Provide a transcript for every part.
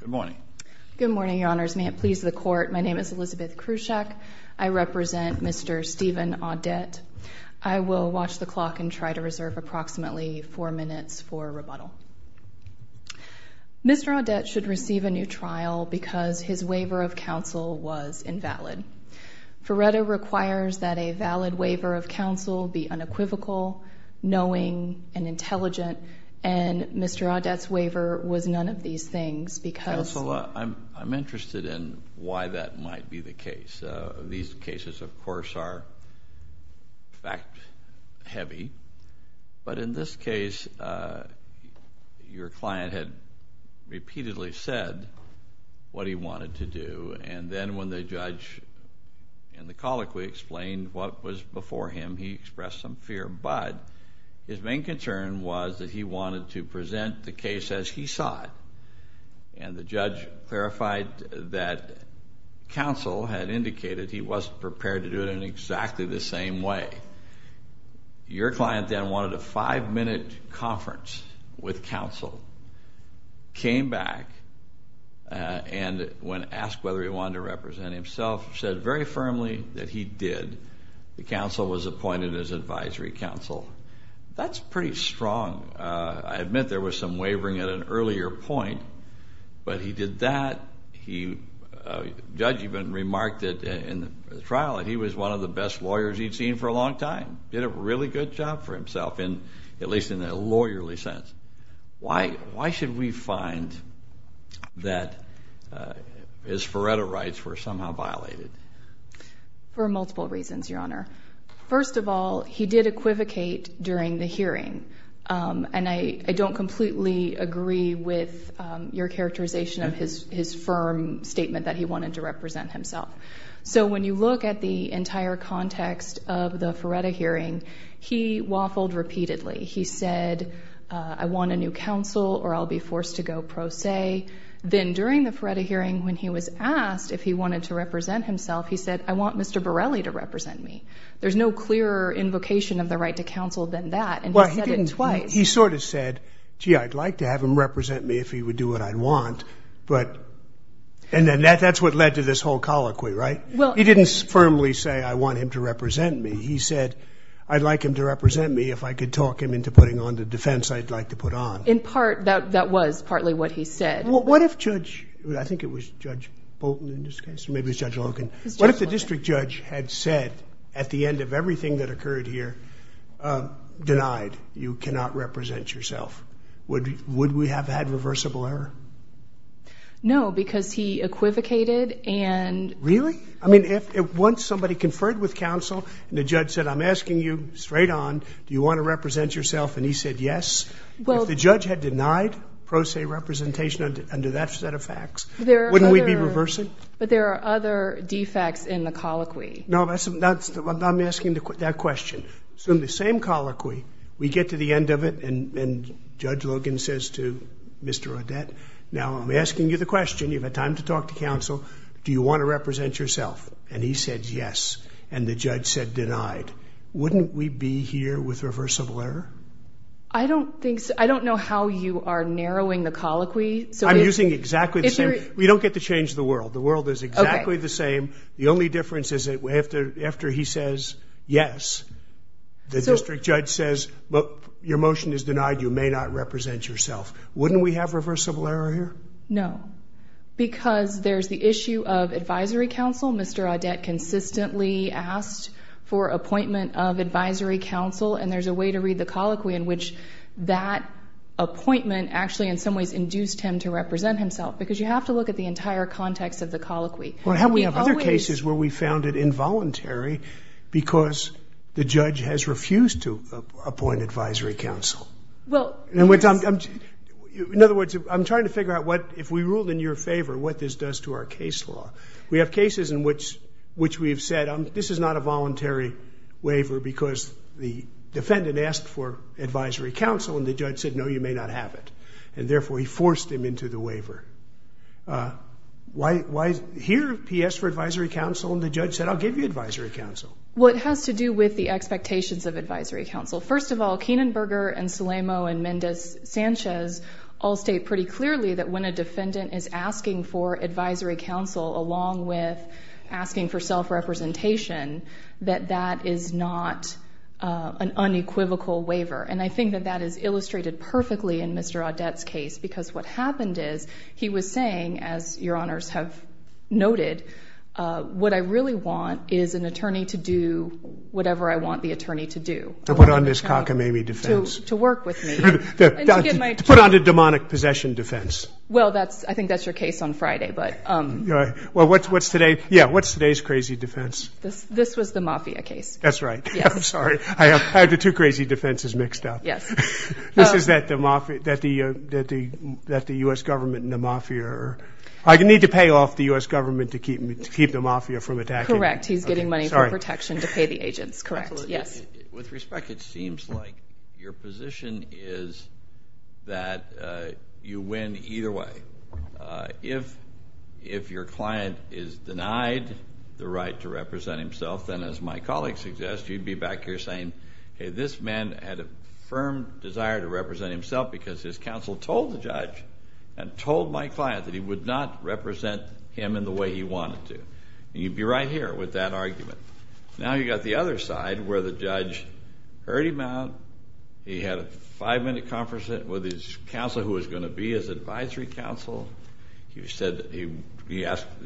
Good morning. Good morning, Your Honors. May it please the Court, my name is Elizabeth Krushak. I represent Mr. Steven Audette. I will watch the clock and try to reserve approximately four minutes for rebuttal. Mr. Audette should receive a new trial because his waiver of counsel was invalid. Ferretto requires that a valid waiver of counsel be unequivocal, knowing, and intelligent, and Mr. Audette's waiver was none of these things because... Counselor, I'm interested in why that might be the case. These cases, of course, are fact-heavy, but in this case, your client had repeatedly said what he wanted to do, and then when the judge in the colloquy explained what was before him, he expressed some fear. But his main concern was that he wanted to present the case as he saw it, and the judge clarified that counsel had indicated he wasn't prepared to do it in exactly the same way. Your client then wanted a five-minute conference with counsel, came back, and when asked whether he wanted to represent himself, said very firmly that he did. The counsel was appointed as advisory counsel. That's pretty strong. I admit there was some wavering at an earlier point, but he did that. The judge even remarked in the trial that he was one of the best lawyers he'd seen for a long time, did a really good job for himself, at least in a lawyerly sense. Why should we find that his Ferretto rights were somehow violated? For multiple reasons, Your Honor. First of all, he did equivocate during the hearing, and I don't completely agree with your characterization of his firm statement that he wanted to represent himself. So when you look at the entire context of the Ferretto hearing, he waffled repeatedly. He said, I want a new counsel or I'll be forced to go pro se. Then during the Ferretto hearing, when he was asked if he wanted to represent himself, he said, I want Mr. Borelli to represent me. There's no clearer invocation of the right to counsel than that, and he said it twice. He sort of said, gee, I'd like to have him represent me if he would do what I'd want, and then that's what led to this whole colloquy, right? He didn't firmly say, I want him to represent me. He said, I'd like him to represent me if I could talk him into putting on the defense I'd like to put on. In part, that was partly what he said. Well, what if Judge, I think it was Judge Bolton in this case, maybe it was Judge Logan. What if the district judge had said at the end of everything that occurred here, denied, you cannot represent yourself? Would we have had reversible error? No, because he equivocated. Really? I mean, once somebody conferred with counsel and the judge said, I'm asking you straight on, do you want to represent yourself, and he said yes. If the judge had denied pro se representation under that set of facts, wouldn't we be reversing? But there are other defects in the colloquy. No, I'm asking that question. So in the same colloquy, we get to the end of it, and Judge Logan says to Mr. Odette, now I'm asking you the question, you've had time to talk to counsel, do you want to represent yourself? And he said yes, and the judge said denied. Wouldn't we be here with reversible error? I don't know how you are narrowing the colloquy. I'm using exactly the same. We don't get to change the world. The world is exactly the same. The only difference is that after he says yes, the district judge says, your motion is denied, you may not represent yourself. Wouldn't we have reversible error here? No, because there's the issue of advisory counsel. Mr. Odette consistently asked for appointment of advisory counsel, and there's a way to read the colloquy in which that appointment actually in some ways induced him to represent himself, because you have to look at the entire context of the colloquy. We have other cases where we found it involuntary because the judge has refused to appoint advisory counsel. In other words, I'm trying to figure out what, if we ruled in your favor, what this does to our case law. We have cases in which we've said this is not a voluntary waiver because the defendant asked for advisory counsel, and the judge said, no, you may not have it, and therefore he forced him into the waiver. Here he asked for advisory counsel, and the judge said, I'll give you advisory counsel. What has to do with the expectations of advisory counsel? First of all, Kienenberger and Salamo and Mendez-Sanchez all state pretty clearly that when a defendant is asking for advisory counsel along with asking for self-representation, that that is not an unequivocal waiver, and I think that that is illustrated perfectly in Mr. Odette's case because what happened is he was saying, as your honors have noted, what I really want is an attorney to do whatever I want the attorney to do. To put on this cockamamie defense. To work with me. To put on the demonic possession defense. Well, I think that's your case on Friday, but. Well, what's today's crazy defense? This was the mafia case. That's right. I'm sorry. I have the two crazy defenses mixed up. Yes. This is that the U.S. government and the mafia are. I need to pay off the U.S. government to keep the mafia from attacking. Correct. He's getting money for protection to pay the agents, correct. Yes. With respect, it seems like your position is that you win either way. If your client is denied the right to represent himself, then, as my colleague suggests, you'd be back here saying, hey, this man had a firm desire to represent himself because his counsel told the judge and told my client that he would not represent him in the way he wanted to. Now you've got the other side where the judge heard him out. He had a five-minute conference with his counsel, who was going to be his advisory counsel. He said the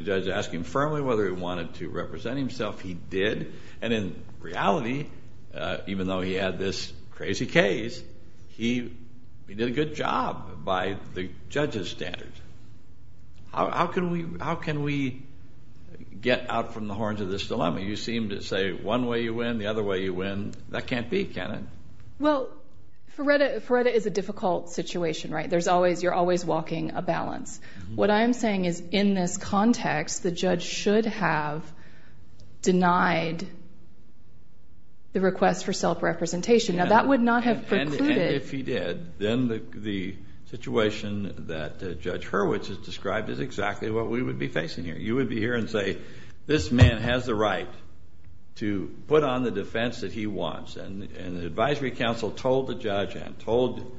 judge asked him firmly whether he wanted to represent himself. He did. And in reality, even though he had this crazy case, he did a good job by the judge's standards. How can we get out from the horns of this dilemma? You seem to say one way you win, the other way you win. That can't be, can it? Well, Feretta is a difficult situation, right? You're always walking a balance. What I'm saying is in this context, the judge should have denied the request for self-representation. Now that would not have precluded. And if he did, then the situation that Judge Hurwitz has described is exactly what we would be facing here. You would be here and say this man has the right to put on the defense that he wants. And the advisory counsel told the judge and told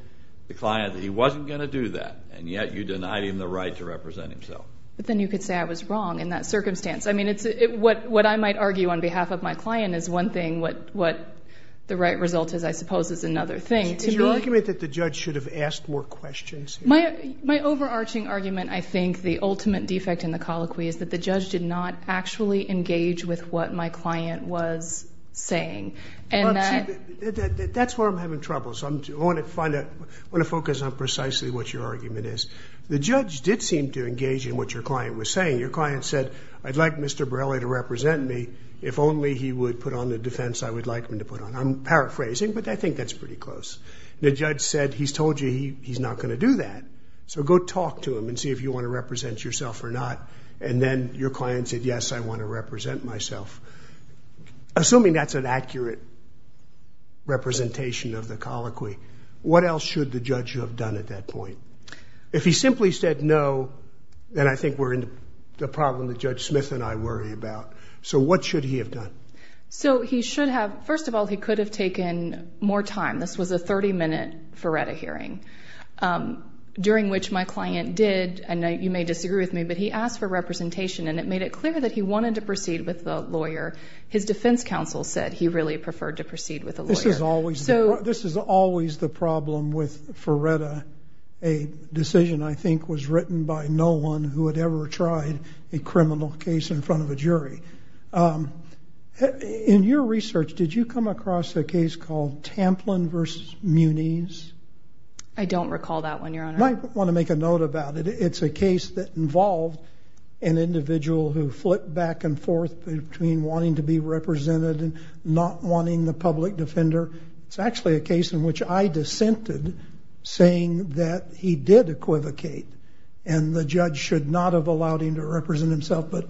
the client that he wasn't going to do that, and yet you denied him the right to represent himself. But then you could say I was wrong in that circumstance. I mean, what I might argue on behalf of my client is one thing. What the right result is, I suppose, is another thing. Is your argument that the judge should have asked more questions? My overarching argument, I think, the ultimate defect in the colloquy, is that the judge did not actually engage with what my client was saying. That's where I'm having trouble. I want to focus on precisely what your argument is. The judge did seem to engage in what your client was saying. Your client said, I'd like Mr. Borrelli to represent me. If only he would put on the defense I would like him to put on. I'm paraphrasing, but I think that's pretty close. The judge said, he's told you he's not going to do that, so go talk to him and see if you want to represent yourself or not. And then your client said, yes, I want to represent myself. Assuming that's an accurate representation of the colloquy, what else should the judge have done at that point? If he simply said no, then I think we're in the problem that Judge Smith and I worry about. So what should he have done? So he should have, first of all, he could have taken more time. This was a 30-minute Feretta hearing, during which my client did, and you may disagree with me, but he asked for representation, and it made it clear that he wanted to proceed with the lawyer. His defense counsel said he really preferred to proceed with the lawyer. This is always the problem with Feretta, a decision I think was written by no one who had ever tried a criminal case in front of a jury. In your research, did you come across a case called Tamplin v. Muniz? I don't recall that one, Your Honor. I want to make a note about it. It's a case that involved an individual who flipped back and forth between wanting to be represented and not wanting the public defender. It's actually a case in which I dissented, saying that he did equivocate, and the judge should not have allowed him to represent himself. But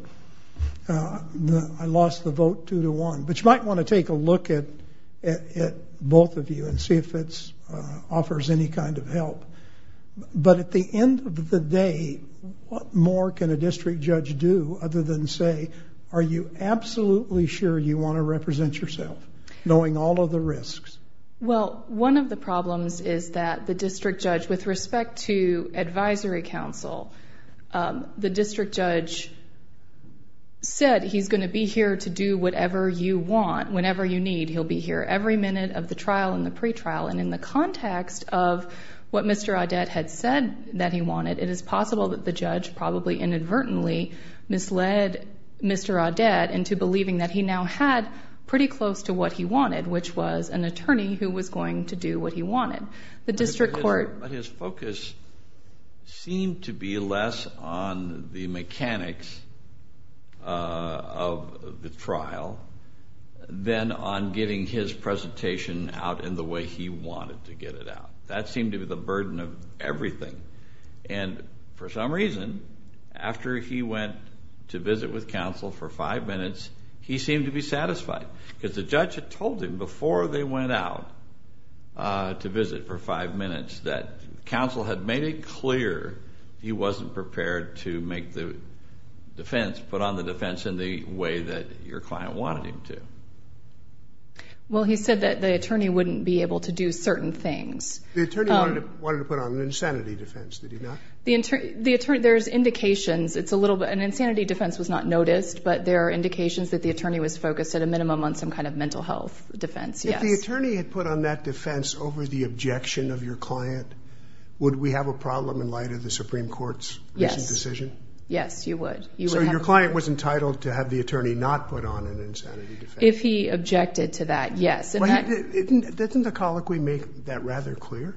I lost the vote two to one. But you might want to take a look at both of you and see if it offers any kind of help. But at the end of the day, what more can a district judge do other than say, are you absolutely sure you want to represent yourself, knowing all of the risks? Well, one of the problems is that the district judge, with respect to advisory counsel, the district judge said he's going to be here to do whatever you want, whenever you need, he'll be here every minute of the trial and the pretrial. And in the context of what Mr. Audet had said that he wanted, it is possible that the judge probably inadvertently misled Mr. Audet into believing that he now had pretty close to what he wanted, which was an attorney who was going to do what he wanted. But his focus seemed to be less on the mechanics of the trial than on getting his presentation out in the way he wanted to get it out. That seemed to be the burden of everything. And for some reason, after he went to visit with counsel for five minutes, he seemed to be satisfied. Because the judge had told him before they went out to visit for five minutes that counsel had made it clear he wasn't prepared to make the defense, put on the defense in the way that your client wanted him to. Well, he said that the attorney wouldn't be able to do certain things. The attorney wanted to put on an insanity defense, did he not? The attorney, there's indications, it's a little bit, an insanity defense was not noticed, but there are indications that the attorney was focused at a minimum on some kind of mental health defense, yes. If the attorney had put on that defense over the objection of your client, would we have a problem in light of the Supreme Court's decision? Yes, you would. So your client was entitled to have the attorney not put on an insanity defense? If he objected to that, yes. Doesn't the colloquy make that rather clear?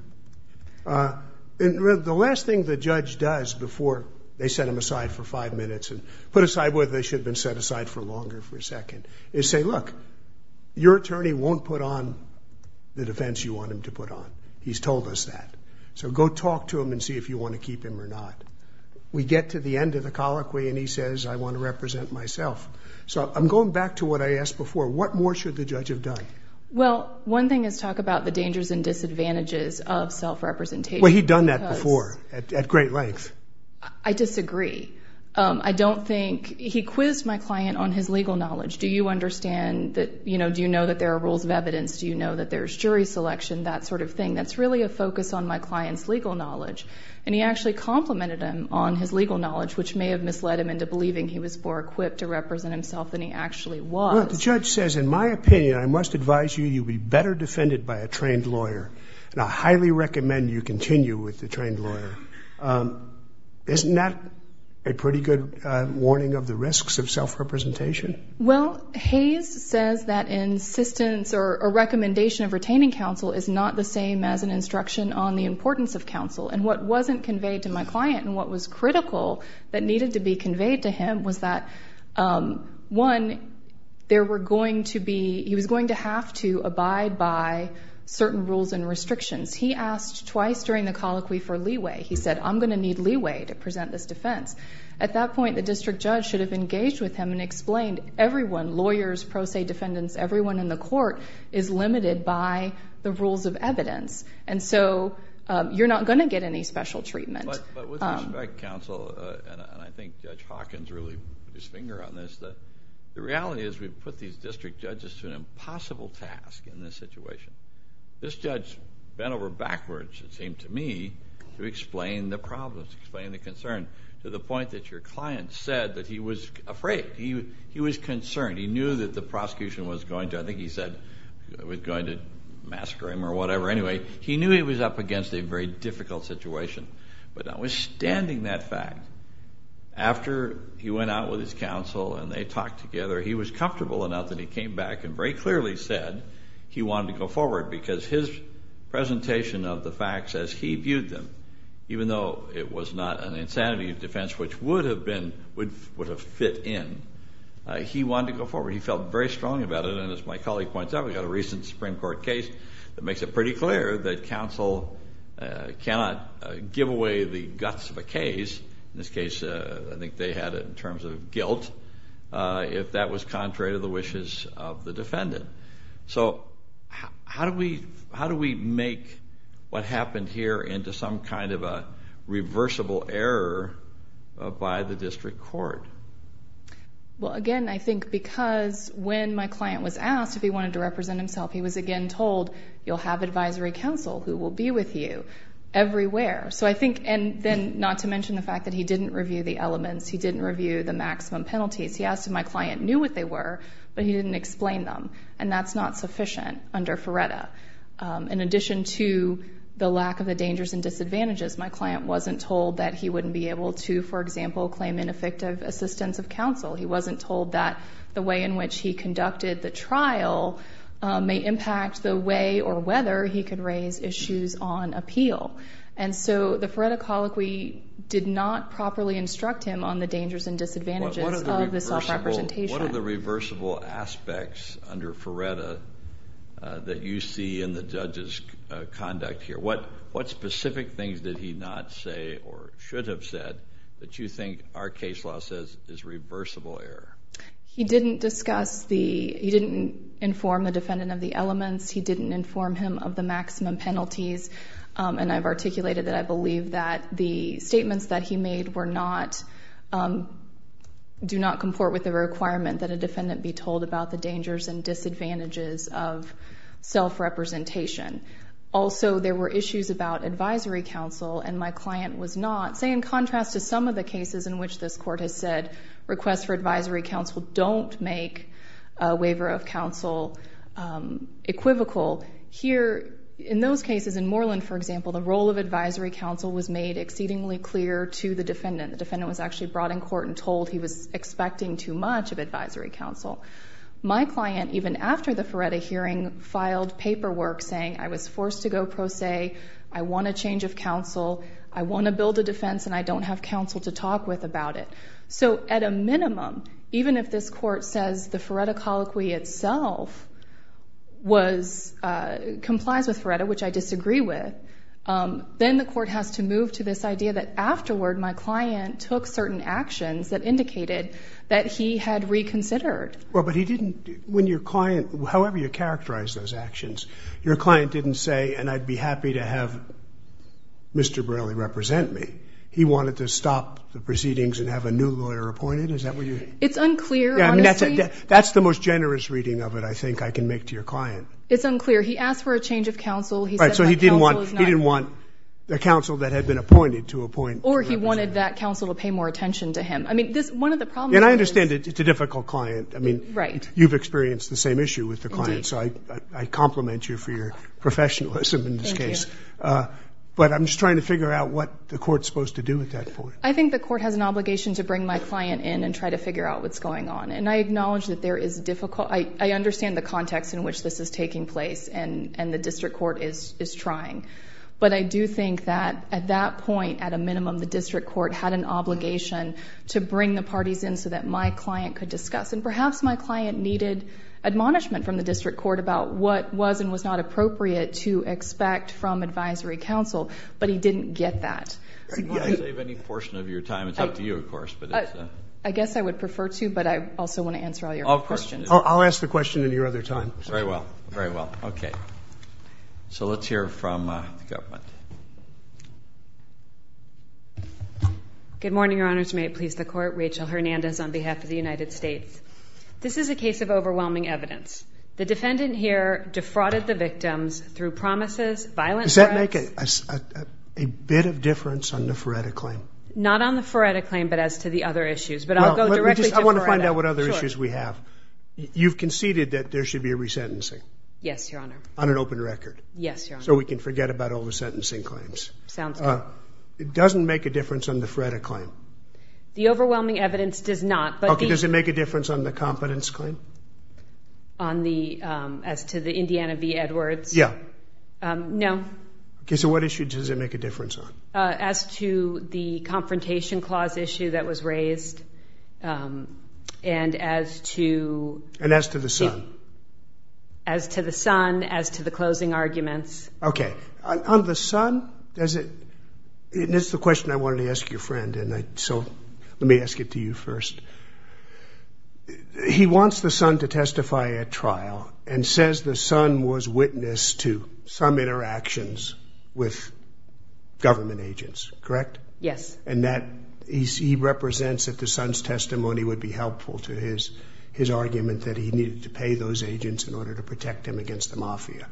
The last thing the judge does before they set him aside for five minutes and put aside whether they should have been set aside for longer for a second is say, look, your attorney won't put on the defense you want him to put on. He's told us that. So go talk to him and see if you want to keep him or not. We get to the end of the colloquy, and he says, I want to represent myself. So I'm going back to what I asked before. What more should the judge have done? Well, one thing is talk about the dangers and disadvantages of self-representation. Well, he'd done that before at great length. I disagree. I don't think he quizzed my client on his legal knowledge. Do you understand that, you know, do you know that there are rules of evidence? Do you know that there's jury selection? That sort of thing. That's really a focus on my client's legal knowledge. And he actually complimented him on his legal knowledge, which may have misled him into believing he was more equipped to represent himself than he actually was. Well, the judge says, in my opinion, I must advise you, you'd be better defended by a trained lawyer. And I highly recommend you continue with the trained lawyer. Isn't that a pretty good warning of the risks of self-representation? Well, Hayes says that insistence or a recommendation of retaining counsel is not the same as an instruction on the importance of counsel. And what wasn't conveyed to my client and what was critical that needed to be conveyed to him was that, one, there were going to be, he was going to have to abide by certain rules and restrictions. He asked twice during the colloquy for leeway. He said, I'm going to need leeway to present this defense. At that point, the district judge should have engaged with him and explained, everyone, lawyers, pro se defendants, everyone in the court is limited by the rules of evidence. And so you're not going to get any special treatment. But with respect, counsel, and I think Judge Hawkins really put his finger on this, the reality is we've put these district judges to an impossible task in this situation. This judge bent over backwards, it seemed to me, to explain the problems, explain the concern, to the point that your client said that he was afraid, he was concerned. He knew that the prosecution was going to, I think he said, was going to massacre him or whatever. Anyway, he knew he was up against a very difficult situation. But notwithstanding that fact, after he went out with his counsel and they talked together, he was comfortable enough that he came back and very clearly said he wanted to go forward because his presentation of the facts as he viewed them, even though it was not an insanity of defense, which would have been, would have fit in, he wanted to go forward. He felt very strong about it, and as my colleague points out, we've got a recent Supreme Court case that makes it pretty clear that counsel cannot give away the guts of a case. In this case, I think they had it in terms of guilt if that was contrary to the wishes of the defendant. So how do we make what happened here into some kind of a reversible error by the district court? Well, again, I think because when my client was asked if he wanted to represent himself, he was again told, you'll have advisory counsel who will be with you everywhere. So I think, and then not to mention the fact that he didn't review the elements, he didn't review the maximum penalties. He asked if my client knew what they were, but he didn't explain them, and that's not sufficient under Ferretta. In addition to the lack of the dangers and disadvantages, my client wasn't told that he wouldn't be able to, for example, claim ineffective assistance of counsel. He wasn't told that the way in which he conducted the trial may impact the way or whether he could raise issues on appeal. And so the Ferretta colloquy did not properly instruct him on the dangers and disadvantages of the self-representation. What are the reversible aspects under Ferretta that you see in the judge's conduct here? What specific things did he not say or should have said that you think our case law says is reversible error? He didn't discuss the, he didn't inform the defendant of the elements. He didn't inform him of the maximum penalties, and I've articulated that I believe that the statements that he made were not, do not comport with the requirement that a defendant be told about the dangers and disadvantages of self-representation. Also, there were issues about advisory counsel, and my client was not, say in contrast to some of the cases in which this court has said requests for advisory counsel don't make a waiver of counsel equivocal. Here, in those cases, in Moreland, for example, the role of advisory counsel was made exceedingly clear to the defendant. The defendant was actually brought in court and told he was expecting too much of advisory counsel. My client, even after the Ferretta hearing, filed paperwork saying I was forced to go pro se, I want a change of counsel, I want to build a defense, and I don't have counsel to talk with about it. So at a minimum, even if this court says the Ferretta colloquy itself was, complies with Ferretta, which I disagree with, then the court has to move to this idea that afterward my client took certain actions that indicated that he had reconsidered. Well, but he didn't, when your client, however you characterize those actions, your client didn't say, and I'd be happy to have Mr. Braley represent me. He wanted to stop the proceedings and have a new lawyer appointed, is that what you're saying? It's unclear, honestly. Yeah, I mean, that's the most generous reading of it I think I can make to your client. It's unclear. He asked for a change of counsel. Right, so he didn't want a counsel that had been appointed to appoint. Or he wanted that counsel to pay more attention to him. I mean, one of the problems is. And I understand it's a difficult client. Right. I mean, you've experienced the same issue with the client. Indeed. So I compliment you for your professionalism in this case. Thank you. But I'm just trying to figure out what the court's supposed to do at that point. I think the court has an obligation to bring my client in and try to figure out what's going on, and I acknowledge that there is difficult, I understand the context in which this is taking place, and the district court is trying. But I do think that at that point, at a minimum, the district court had an obligation to bring the parties in so that my client could discuss. And perhaps my client needed admonishment from the district court about what was and was not appropriate to expect from advisory counsel, but he didn't get that. Do you want to save any portion of your time? It's up to you, of course. I guess I would prefer to, but I also want to answer all your questions. I'll ask the question in your other time. Very well. Very well. Okay. So let's hear from the government. Good morning, Your Honors. May it please the Court. Rachel Hernandez on behalf of the United States. This is a case of overwhelming evidence. The defendant here defrauded the victims through promises, violent threats. Does that make a bit of difference on the Feretta claim? Not on the Feretta claim, but as to the other issues. But I'll go directly to Feretta. I want to find out what other issues we have. Sure. You've conceded that there should be a resentencing? Yes, Your Honor. On an open record? Yes, Your Honor. So we can forget about all the sentencing claims. Sounds good. It doesn't make a difference on the Feretta claim? The overwhelming evidence does not. Okay. Does it make a difference on the competence claim? As to the Indiana v. Edwards? Yeah. No. So what issue does it make a difference on? As to the confrontation clause issue that was raised and as to the other issues. And as to the son? As to the son, as to the closing arguments. Okay. On the son, does it – this is the question I wanted to ask your friend, so let me ask it to you first. He wants the son to testify at trial and says the son was witness to some interactions with government agents, correct? Yes. And that he represents that the son's testimony would be helpful to his argument that he needed to pay those agents in order to protect him against the mafia.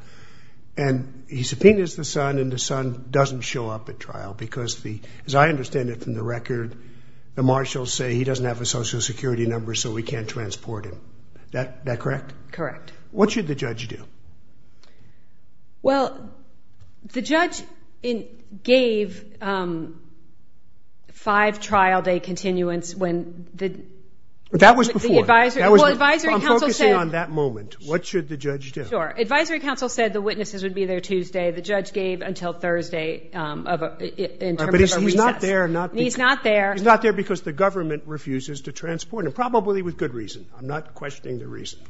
And he subpoenas the son and the son doesn't show up at trial because, as I understand it from the record, the marshals say he doesn't have a Social Security number so we can't transport him. Is that correct? Correct. What should the judge do? Well, the judge gave five trial day continuance when the – That was before. The advisory – Well, advisory council said – I'm focusing on that moment. What should the judge do? Sure. Advisory council said the witnesses would be there Tuesday. The judge gave until Thursday in terms of a recess. But he's not there – He's not there. He's not there because the government refuses to transport him, probably with good reason. I'm not questioning the reason.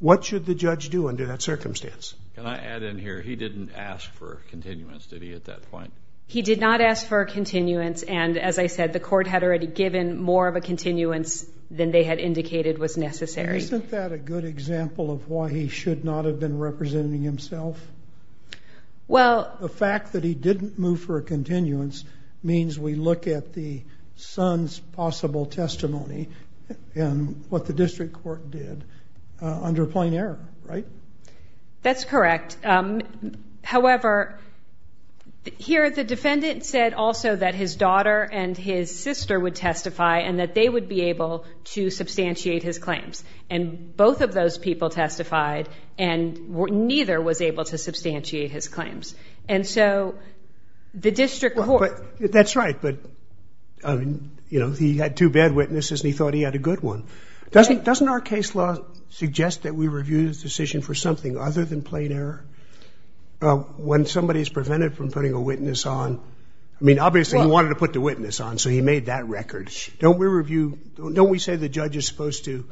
What should the judge do under that circumstance? Can I add in here, he didn't ask for a continuance, did he, at that point? He did not ask for a continuance. And, as I said, the court had already given more of a continuance than they had indicated was necessary. Isn't that a good example of why he should not have been representing himself? Well – The fact that he didn't move for a continuance means we look at the son's possible testimony and what the district court did under plain error, right? That's correct. However, here the defendant said also that his daughter and his sister would testify and that they would be able to substantiate his claims. And both of those people testified, and neither was able to substantiate his claims. And so the district court – Doesn't our case law suggest that we review the decision for something other than plain error? When somebody is prevented from putting a witness on – I mean, obviously he wanted to put the witness on, so he made that record. Don't we review – don't we say the judge is supposed to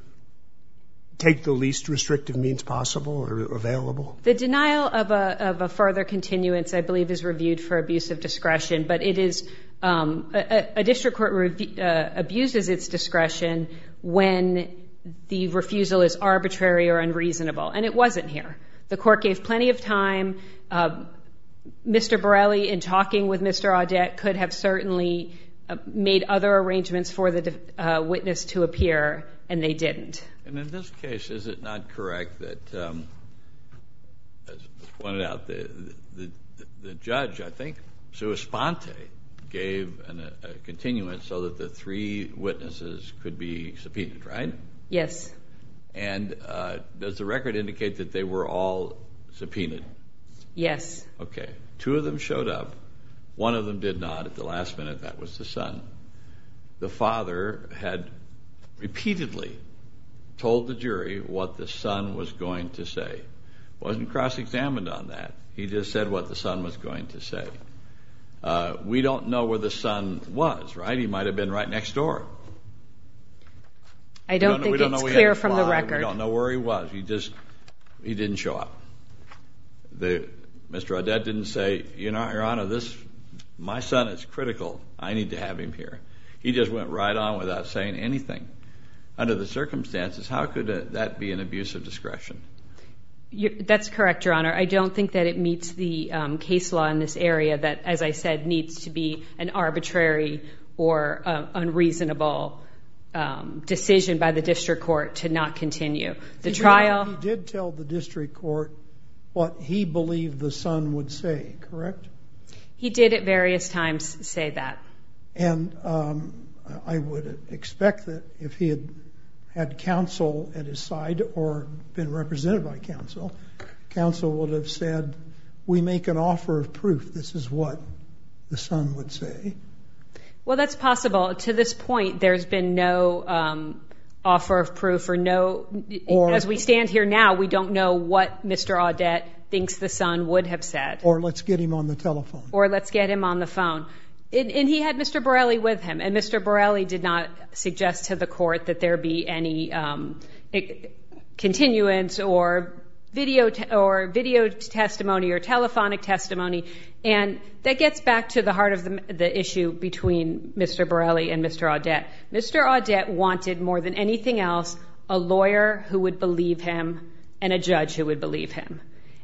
take the least restrictive means possible or available? The denial of a further continuance, I believe, is reviewed for abuse of discretion, but it is – a district court abuses its discretion when the refusal is arbitrary or unreasonable, and it wasn't here. The court gave plenty of time. Mr. Borelli, in talking with Mr. Audet, could have certainly made other arrangements for the witness to appear, and they didn't. And in this case, is it not correct that, as pointed out, the judge, I think, sui sponte, gave a continuance so that the three witnesses could be subpoenaed, right? Yes. And does the record indicate that they were all subpoenaed? Yes. Okay. Two of them showed up. One of them did not at the last minute. That was the son. The father had repeatedly told the jury what the son was going to say. Wasn't cross-examined on that. He just said what the son was going to say. We don't know where the son was, right? He might have been right next door. I don't think it's clear from the record. We don't know where he was. He just – he didn't show up. Mr. Audet didn't say, you know, Your Honor, this – my son is critical. I need to have him here. He just went right on without saying anything. Under the circumstances, how could that be an abuse of discretion? That's correct, Your Honor. I don't think that it meets the case law in this area that, as I said, needs to be an arbitrary or unreasonable decision by the district court to not continue. The trial – He did tell the district court what he believed the son would say, correct? He did at various times say that. And I would expect that if he had had counsel at his side or been represented by counsel, counsel would have said, we make an offer of proof this is what the son would say. Well, that's possible. To this point, there's been no offer of proof or no – as we stand here now, we don't know what Mr. Audet thinks the son would have said. Or let's get him on the telephone. Or let's get him on the phone. And he had Mr. Borelli with him, and Mr. Borelli did not suggest to the court that there be any continuance or video testimony or telephonic testimony. And that gets back to the heart of the issue between Mr. Borelli and Mr. Audet. Mr. Audet wanted more than anything else a lawyer who would believe him and a judge who would believe him.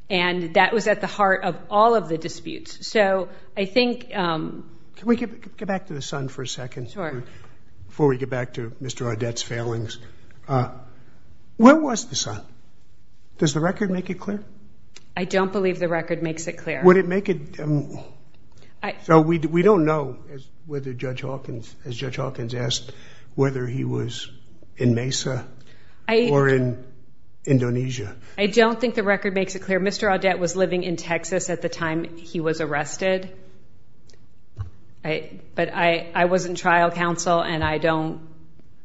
And that was at the heart of all of the disputes. So I think – Can we get back to the son for a second? Sure. Before we get back to Mr. Audet's failings. Where was the son? Does the record make it clear? I don't believe the record makes it clear. Would it make it – so we don't know whether Judge Hawkins, as Judge Hawkins asked, whether he was in Mesa or in Indonesia. I don't think the record makes it clear. Mr. Audet was living in Texas at the time he was arrested. But I was in trial counsel, and I don't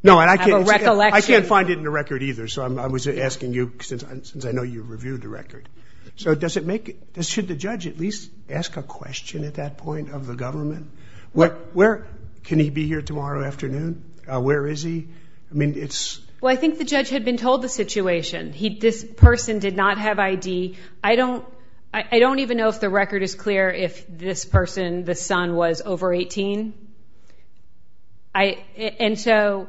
have a recollection. I can't find it in the record either. So I was asking you, since I know you reviewed the record. So does it make – should the judge at least ask a question at that point of the government? Where – can he be here tomorrow afternoon? Where is he? I mean, it's – Well, I think the judge had been told the situation. This person did not have ID. I don't even know if the record is clear if this person, this son, was over 18. And so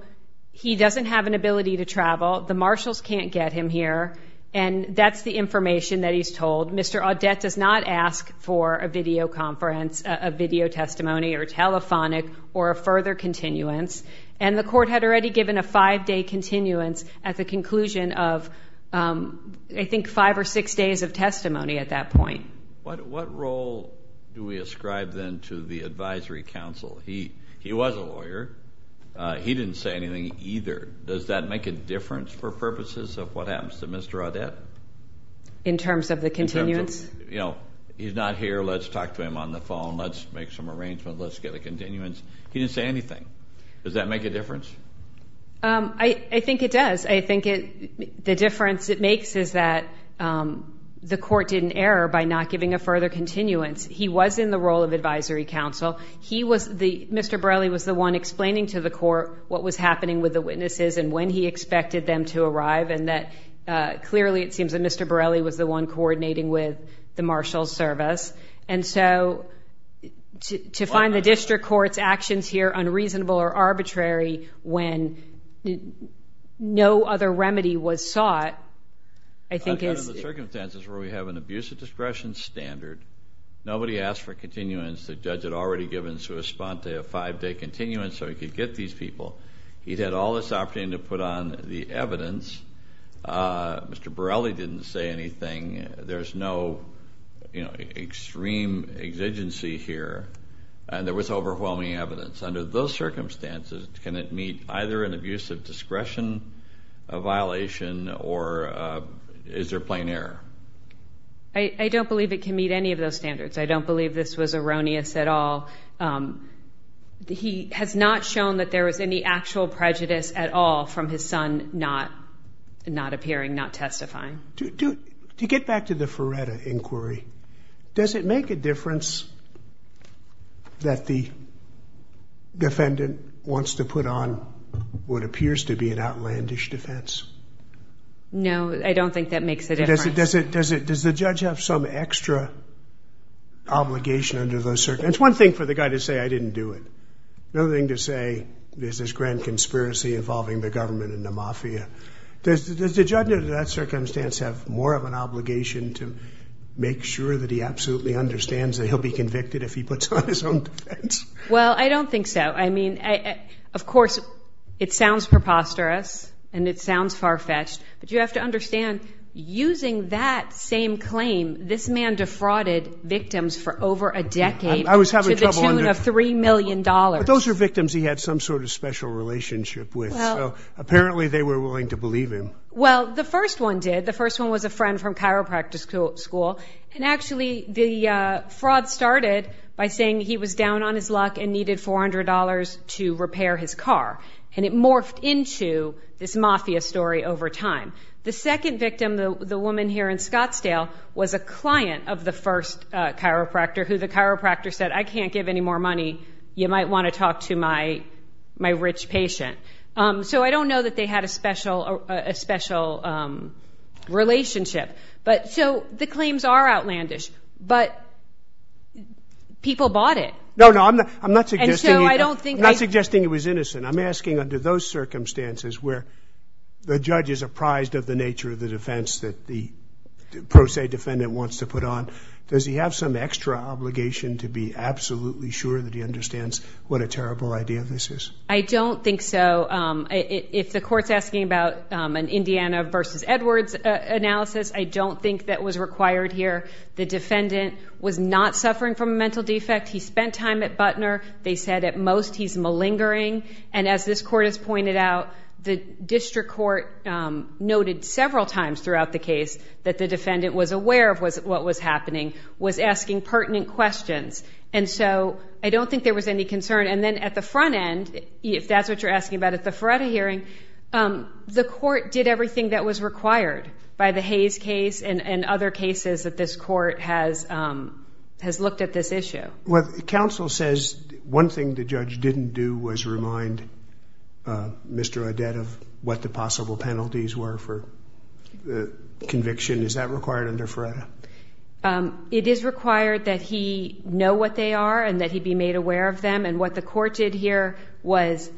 he doesn't have an ability to travel. The marshals can't get him here. And that's the information that he's told. Mr. Audet does not ask for a video conference, a video testimony, or a telephonic, or a further continuance. And the court had already given a five-day continuance at the conclusion of, I think, five or six days of testimony at that point. What role do we ascribe then to the advisory counsel? He was a lawyer. He didn't say anything either. Does that make a difference for purposes of what happens to Mr. Audet? In terms of the continuance? In terms of, you know, he's not here. Let's talk to him on the phone. Let's make some arrangements. Let's get a continuance. He didn't say anything. Does that make a difference? I think it does. I think the difference it makes is that the court did an error by not giving a further continuance. He was in the role of advisory counsel. Mr. Borelli was the one explaining to the court what was happening with the witnesses and when he expected them to arrive, and that clearly it seems that Mr. Borelli was the one coordinating with the marshals' service. And so to find the district court's actions here unreasonable or arbitrary when no other remedy was sought, I think is... Under the circumstances where we have an abuse of discretion standard, nobody asked for continuance. The judge had already given Souspante a five-day continuance so he could get these people. He'd had all this opportunity to put on the evidence. Mr. Borelli didn't say anything. There's no extreme exigency here. There was overwhelming evidence. Under those circumstances, can it meet either an abuse of discretion violation or is there plain error? I don't believe it can meet any of those standards. I don't believe this was erroneous at all. He has not shown that there was any actual prejudice at all from his son not appearing, not testifying. To get back to the Ferretta inquiry, does it make a difference that the defendant wants to put on what appears to be an outlandish defense? No, I don't think that makes a difference. Does the judge have some extra obligation under those circumstances? It's one thing for the guy to say, I didn't do it. Another thing to say, there's this grand conspiracy involving the government and the mafia. Does the judge under that circumstance have more of an obligation to make sure that he absolutely understands that he'll be convicted if he puts on his own defense? Well, I don't think so. I mean, of course, it sounds preposterous and it sounds far-fetched, but you have to understand, using that same claim, this man defrauded victims for over a decade to the tune of $3 million. But those are victims he had some sort of special relationship with. So apparently they were willing to believe him. Well, the first one did. The first one was a friend from chiropractor school. And actually, the fraud started by saying he was down on his luck and needed $400 to repair his car. And it morphed into this mafia story over time. The second victim, the woman here in Scottsdale, was a client of the first chiropractor, who the chiropractor said, I can't give any more money, you might want to talk to my rich patient. So I don't know that they had a special relationship. So the claims are outlandish, but people bought it. No, no, I'm not suggesting he was innocent. I'm asking under those circumstances where the judge is apprised of the nature of the defense that the pro se defendant wants to put on, does he have some extra obligation to be absolutely sure that he understands what a terrible idea this is? I don't think so. If the court's asking about an Indiana v. Edwards analysis, I don't think that was required here. The defendant was not suffering from a mental defect. He spent time at Butner. They said at most he's malingering. And as this court has pointed out, the district court noted several times throughout the case that the defendant was aware of what was happening, was asking pertinent questions. And so I don't think there was any concern. And then at the front end, if that's what you're asking about at the Faretta hearing, the court did everything that was required by the Hayes case and other cases that this court has looked at this issue. Well, counsel says one thing the judge didn't do was remind Mr. Odette of what the possible penalties were for conviction. Is that required under Faretta? It is required that he know what they are and that he be made aware of them. And what the court did here was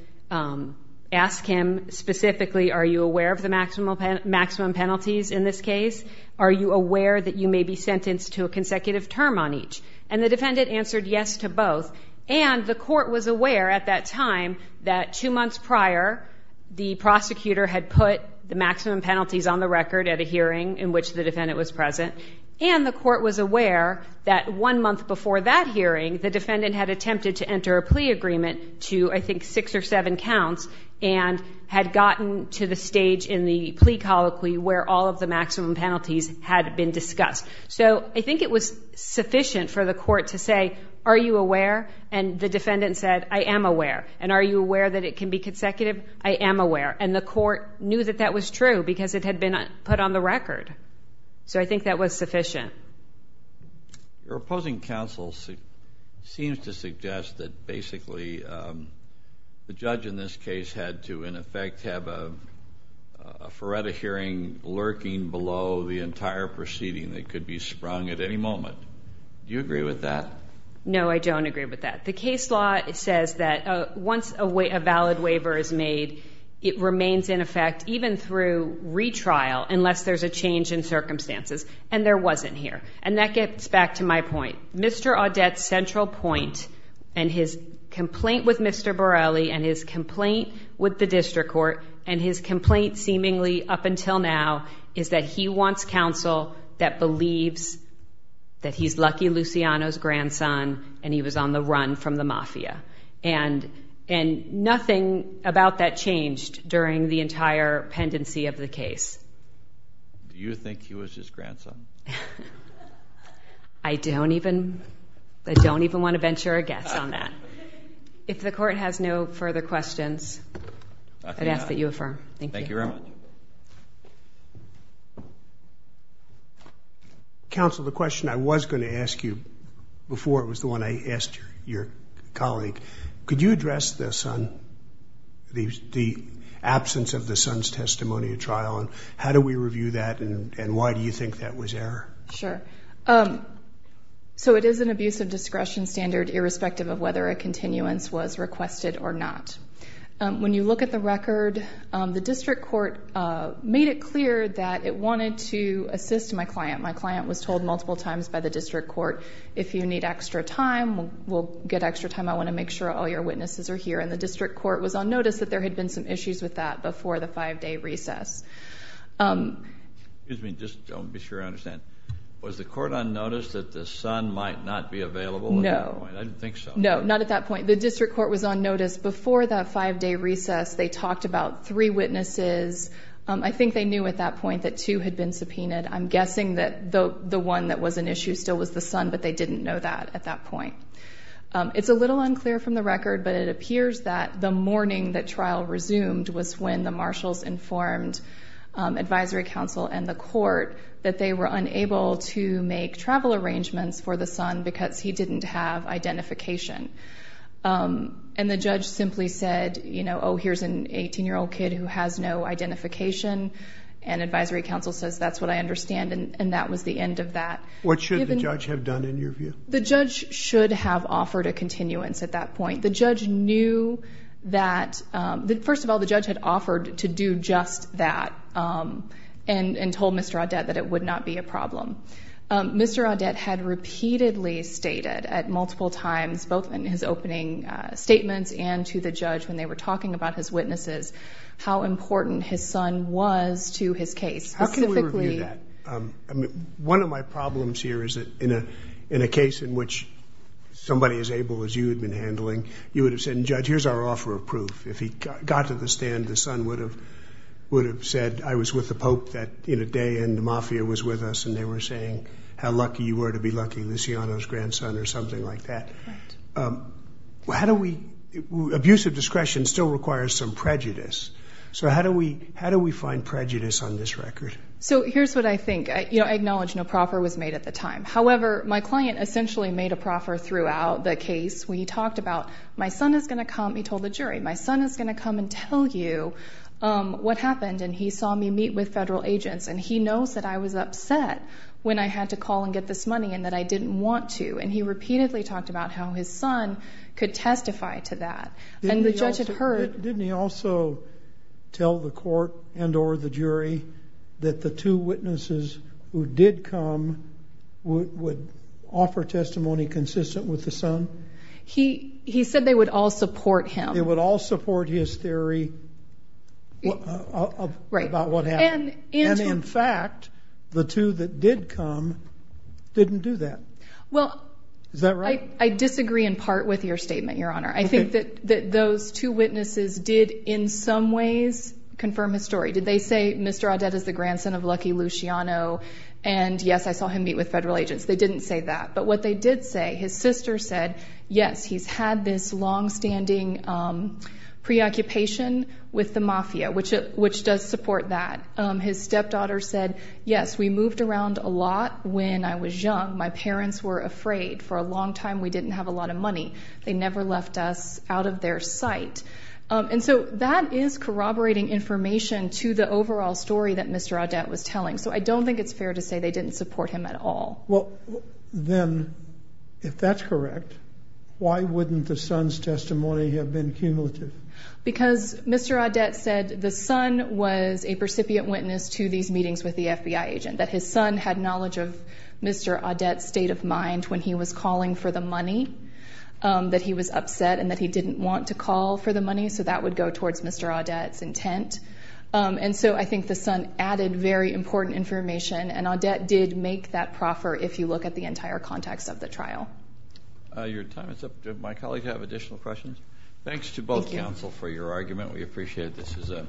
ask him specifically, are you aware of the maximum penalties in this case? Are you aware that you may be sentenced to a consecutive term on each? And the defendant answered yes to both. And the court was aware at that time that two months prior, the prosecutor had put the maximum penalties on the record at a hearing in which the defendant was present. And the court was aware that one month before that hearing, the defendant had attempted to enter a plea agreement to I think six or seven counts and had gotten to the stage in the plea colloquy where all of the maximum penalties had been discussed. So I think it was sufficient for the court to say, are you aware? And the defendant said, I am aware. And are you aware that it can be consecutive? I am aware. And the court knew that that was true because it had been put on the record. So I think that was sufficient. Your opposing counsel seems to suggest that basically the judge in this case had to, in effect, have a Feretta hearing lurking below the entire proceeding that could be sprung at any moment. Do you agree with that? No, I don't agree with that. The case law says that once a valid waiver is made, it remains in effect even through retrial unless there's a change in circumstances. And there wasn't here. And that gets back to my point. Mr. Audet's central point and his complaint with Mr. Borrelli and his complaint with the district court and his complaint seemingly up until now is that he wants counsel that believes that he's Lucky Luciano's grandson and he was on the run from the mafia. And nothing about that changed during the entire pendency of the case. Do you think he was his grandson? I don't even want to venture a guess on that. If the court has no further questions, I'd ask that you affirm. Thank you very much. Counsel, the question I was going to ask you before it was the one I asked your colleague, could you address this on the absence of the son's testimony at trial and how do we review that and why do you think that was error? Sure. So it is an abuse of discretion standard, irrespective of whether a continuance was requested or not. When you look at the record, the district court made it clear that it wanted to assist my client. My client was told multiple times by the district court, if you need extra time, we'll get extra time. I want to make sure all your witnesses are here. And the district court was on notice that there had been some issues with that before the five-day recess. Excuse me, just to be sure I understand. Was the court on notice that the son might not be available at that point? No. I didn't think so. No, not at that point. The district court was on notice before that five-day recess. They talked about three witnesses. I think they knew at that point that two had been subpoenaed. I'm guessing that the one that was an issue still was the son, but they didn't know that at that point. It's a little unclear from the record, but it appears that the morning that trial resumed was when the marshals informed advisory council and the court that they were unable to make travel arrangements for the son because he didn't have identification. And the judge simply said, you know, oh here's an 18-year-old kid who has no identification, and advisory council says that's what I understand, and that was the end of that. What should the judge have done in your view? The judge should have offered a continuance at that point. The judge knew that, first of all, the judge had offered to do just that, and told Mr. Audet that it would not be a problem. Mr. Audet had repeatedly stated at multiple times, both in his opening statements and to the judge when they were talking about his witnesses, how important his son was to his case. How can we review that? One of my problems here is that in a case in which somebody as able as you had been handling, you would have said, judge, here's our offer of proof. If he got to the stand, the son would have said, I was with the Pope in a day and the mafia was with us, and they were saying how lucky you were to be lucky, Luciano's grandson or something like that. Abusive discretion still requires some prejudice. So how do we find prejudice on this record? So here's what I think. I acknowledge no proffer was made at the time. However, my client essentially made a proffer throughout the case. We talked about, my son is going to come, he told the jury, my son is going to come and tell you what happened, and he saw me meet with federal agents, and he knows that I was upset when I had to call and get this money and that I didn't want to. And he repeatedly talked about how his son could testify to that. And the judge had heard. Didn't he also tell the court and or the jury that the two witnesses who did come would offer testimony consistent with the son? He said they would all support him. They would all support his theory about what happened. And in fact, the two that did come didn't do that. Is that right? I disagree in part with your statement, Your Honor. I think that those two witnesses did in some ways confirm his story. Did they say Mr. Audet is the grandson of Lucky Luciano, and, yes, I saw him meet with federal agents? They didn't say that. But what they did say, his sister said, yes, he's had this longstanding preoccupation with the mafia, which does support that. His stepdaughter said, yes, we moved around a lot when I was young. My parents were afraid. For a long time we didn't have a lot of money. They never left us out of their sight. And so that is corroborating information to the overall story that Mr. Audet was telling. So I don't think it's fair to say they didn't support him at all. Well, then, if that's correct, why wouldn't the son's testimony have been cumulative? Because Mr. Audet said the son was a recipient witness to these meetings with the FBI agent, that his son had knowledge of Mr. Audet's state of mind when he was calling for the money, that he was upset and that he didn't want to call for the money. So that would go towards Mr. Audet's intent. And so I think the son added very important information, and Audet did make that proffer if you look at the entire context of the trial. Your time is up. Do my colleagues have additional questions? Thanks to both counsel for your argument. We appreciate it. This is an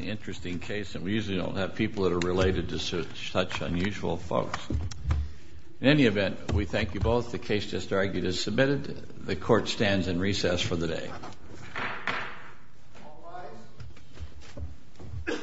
interesting case, and we usually don't have people that are related to such unusual folks. In any event, we thank you both. The case just argued is submitted. The court stands in recess for the day.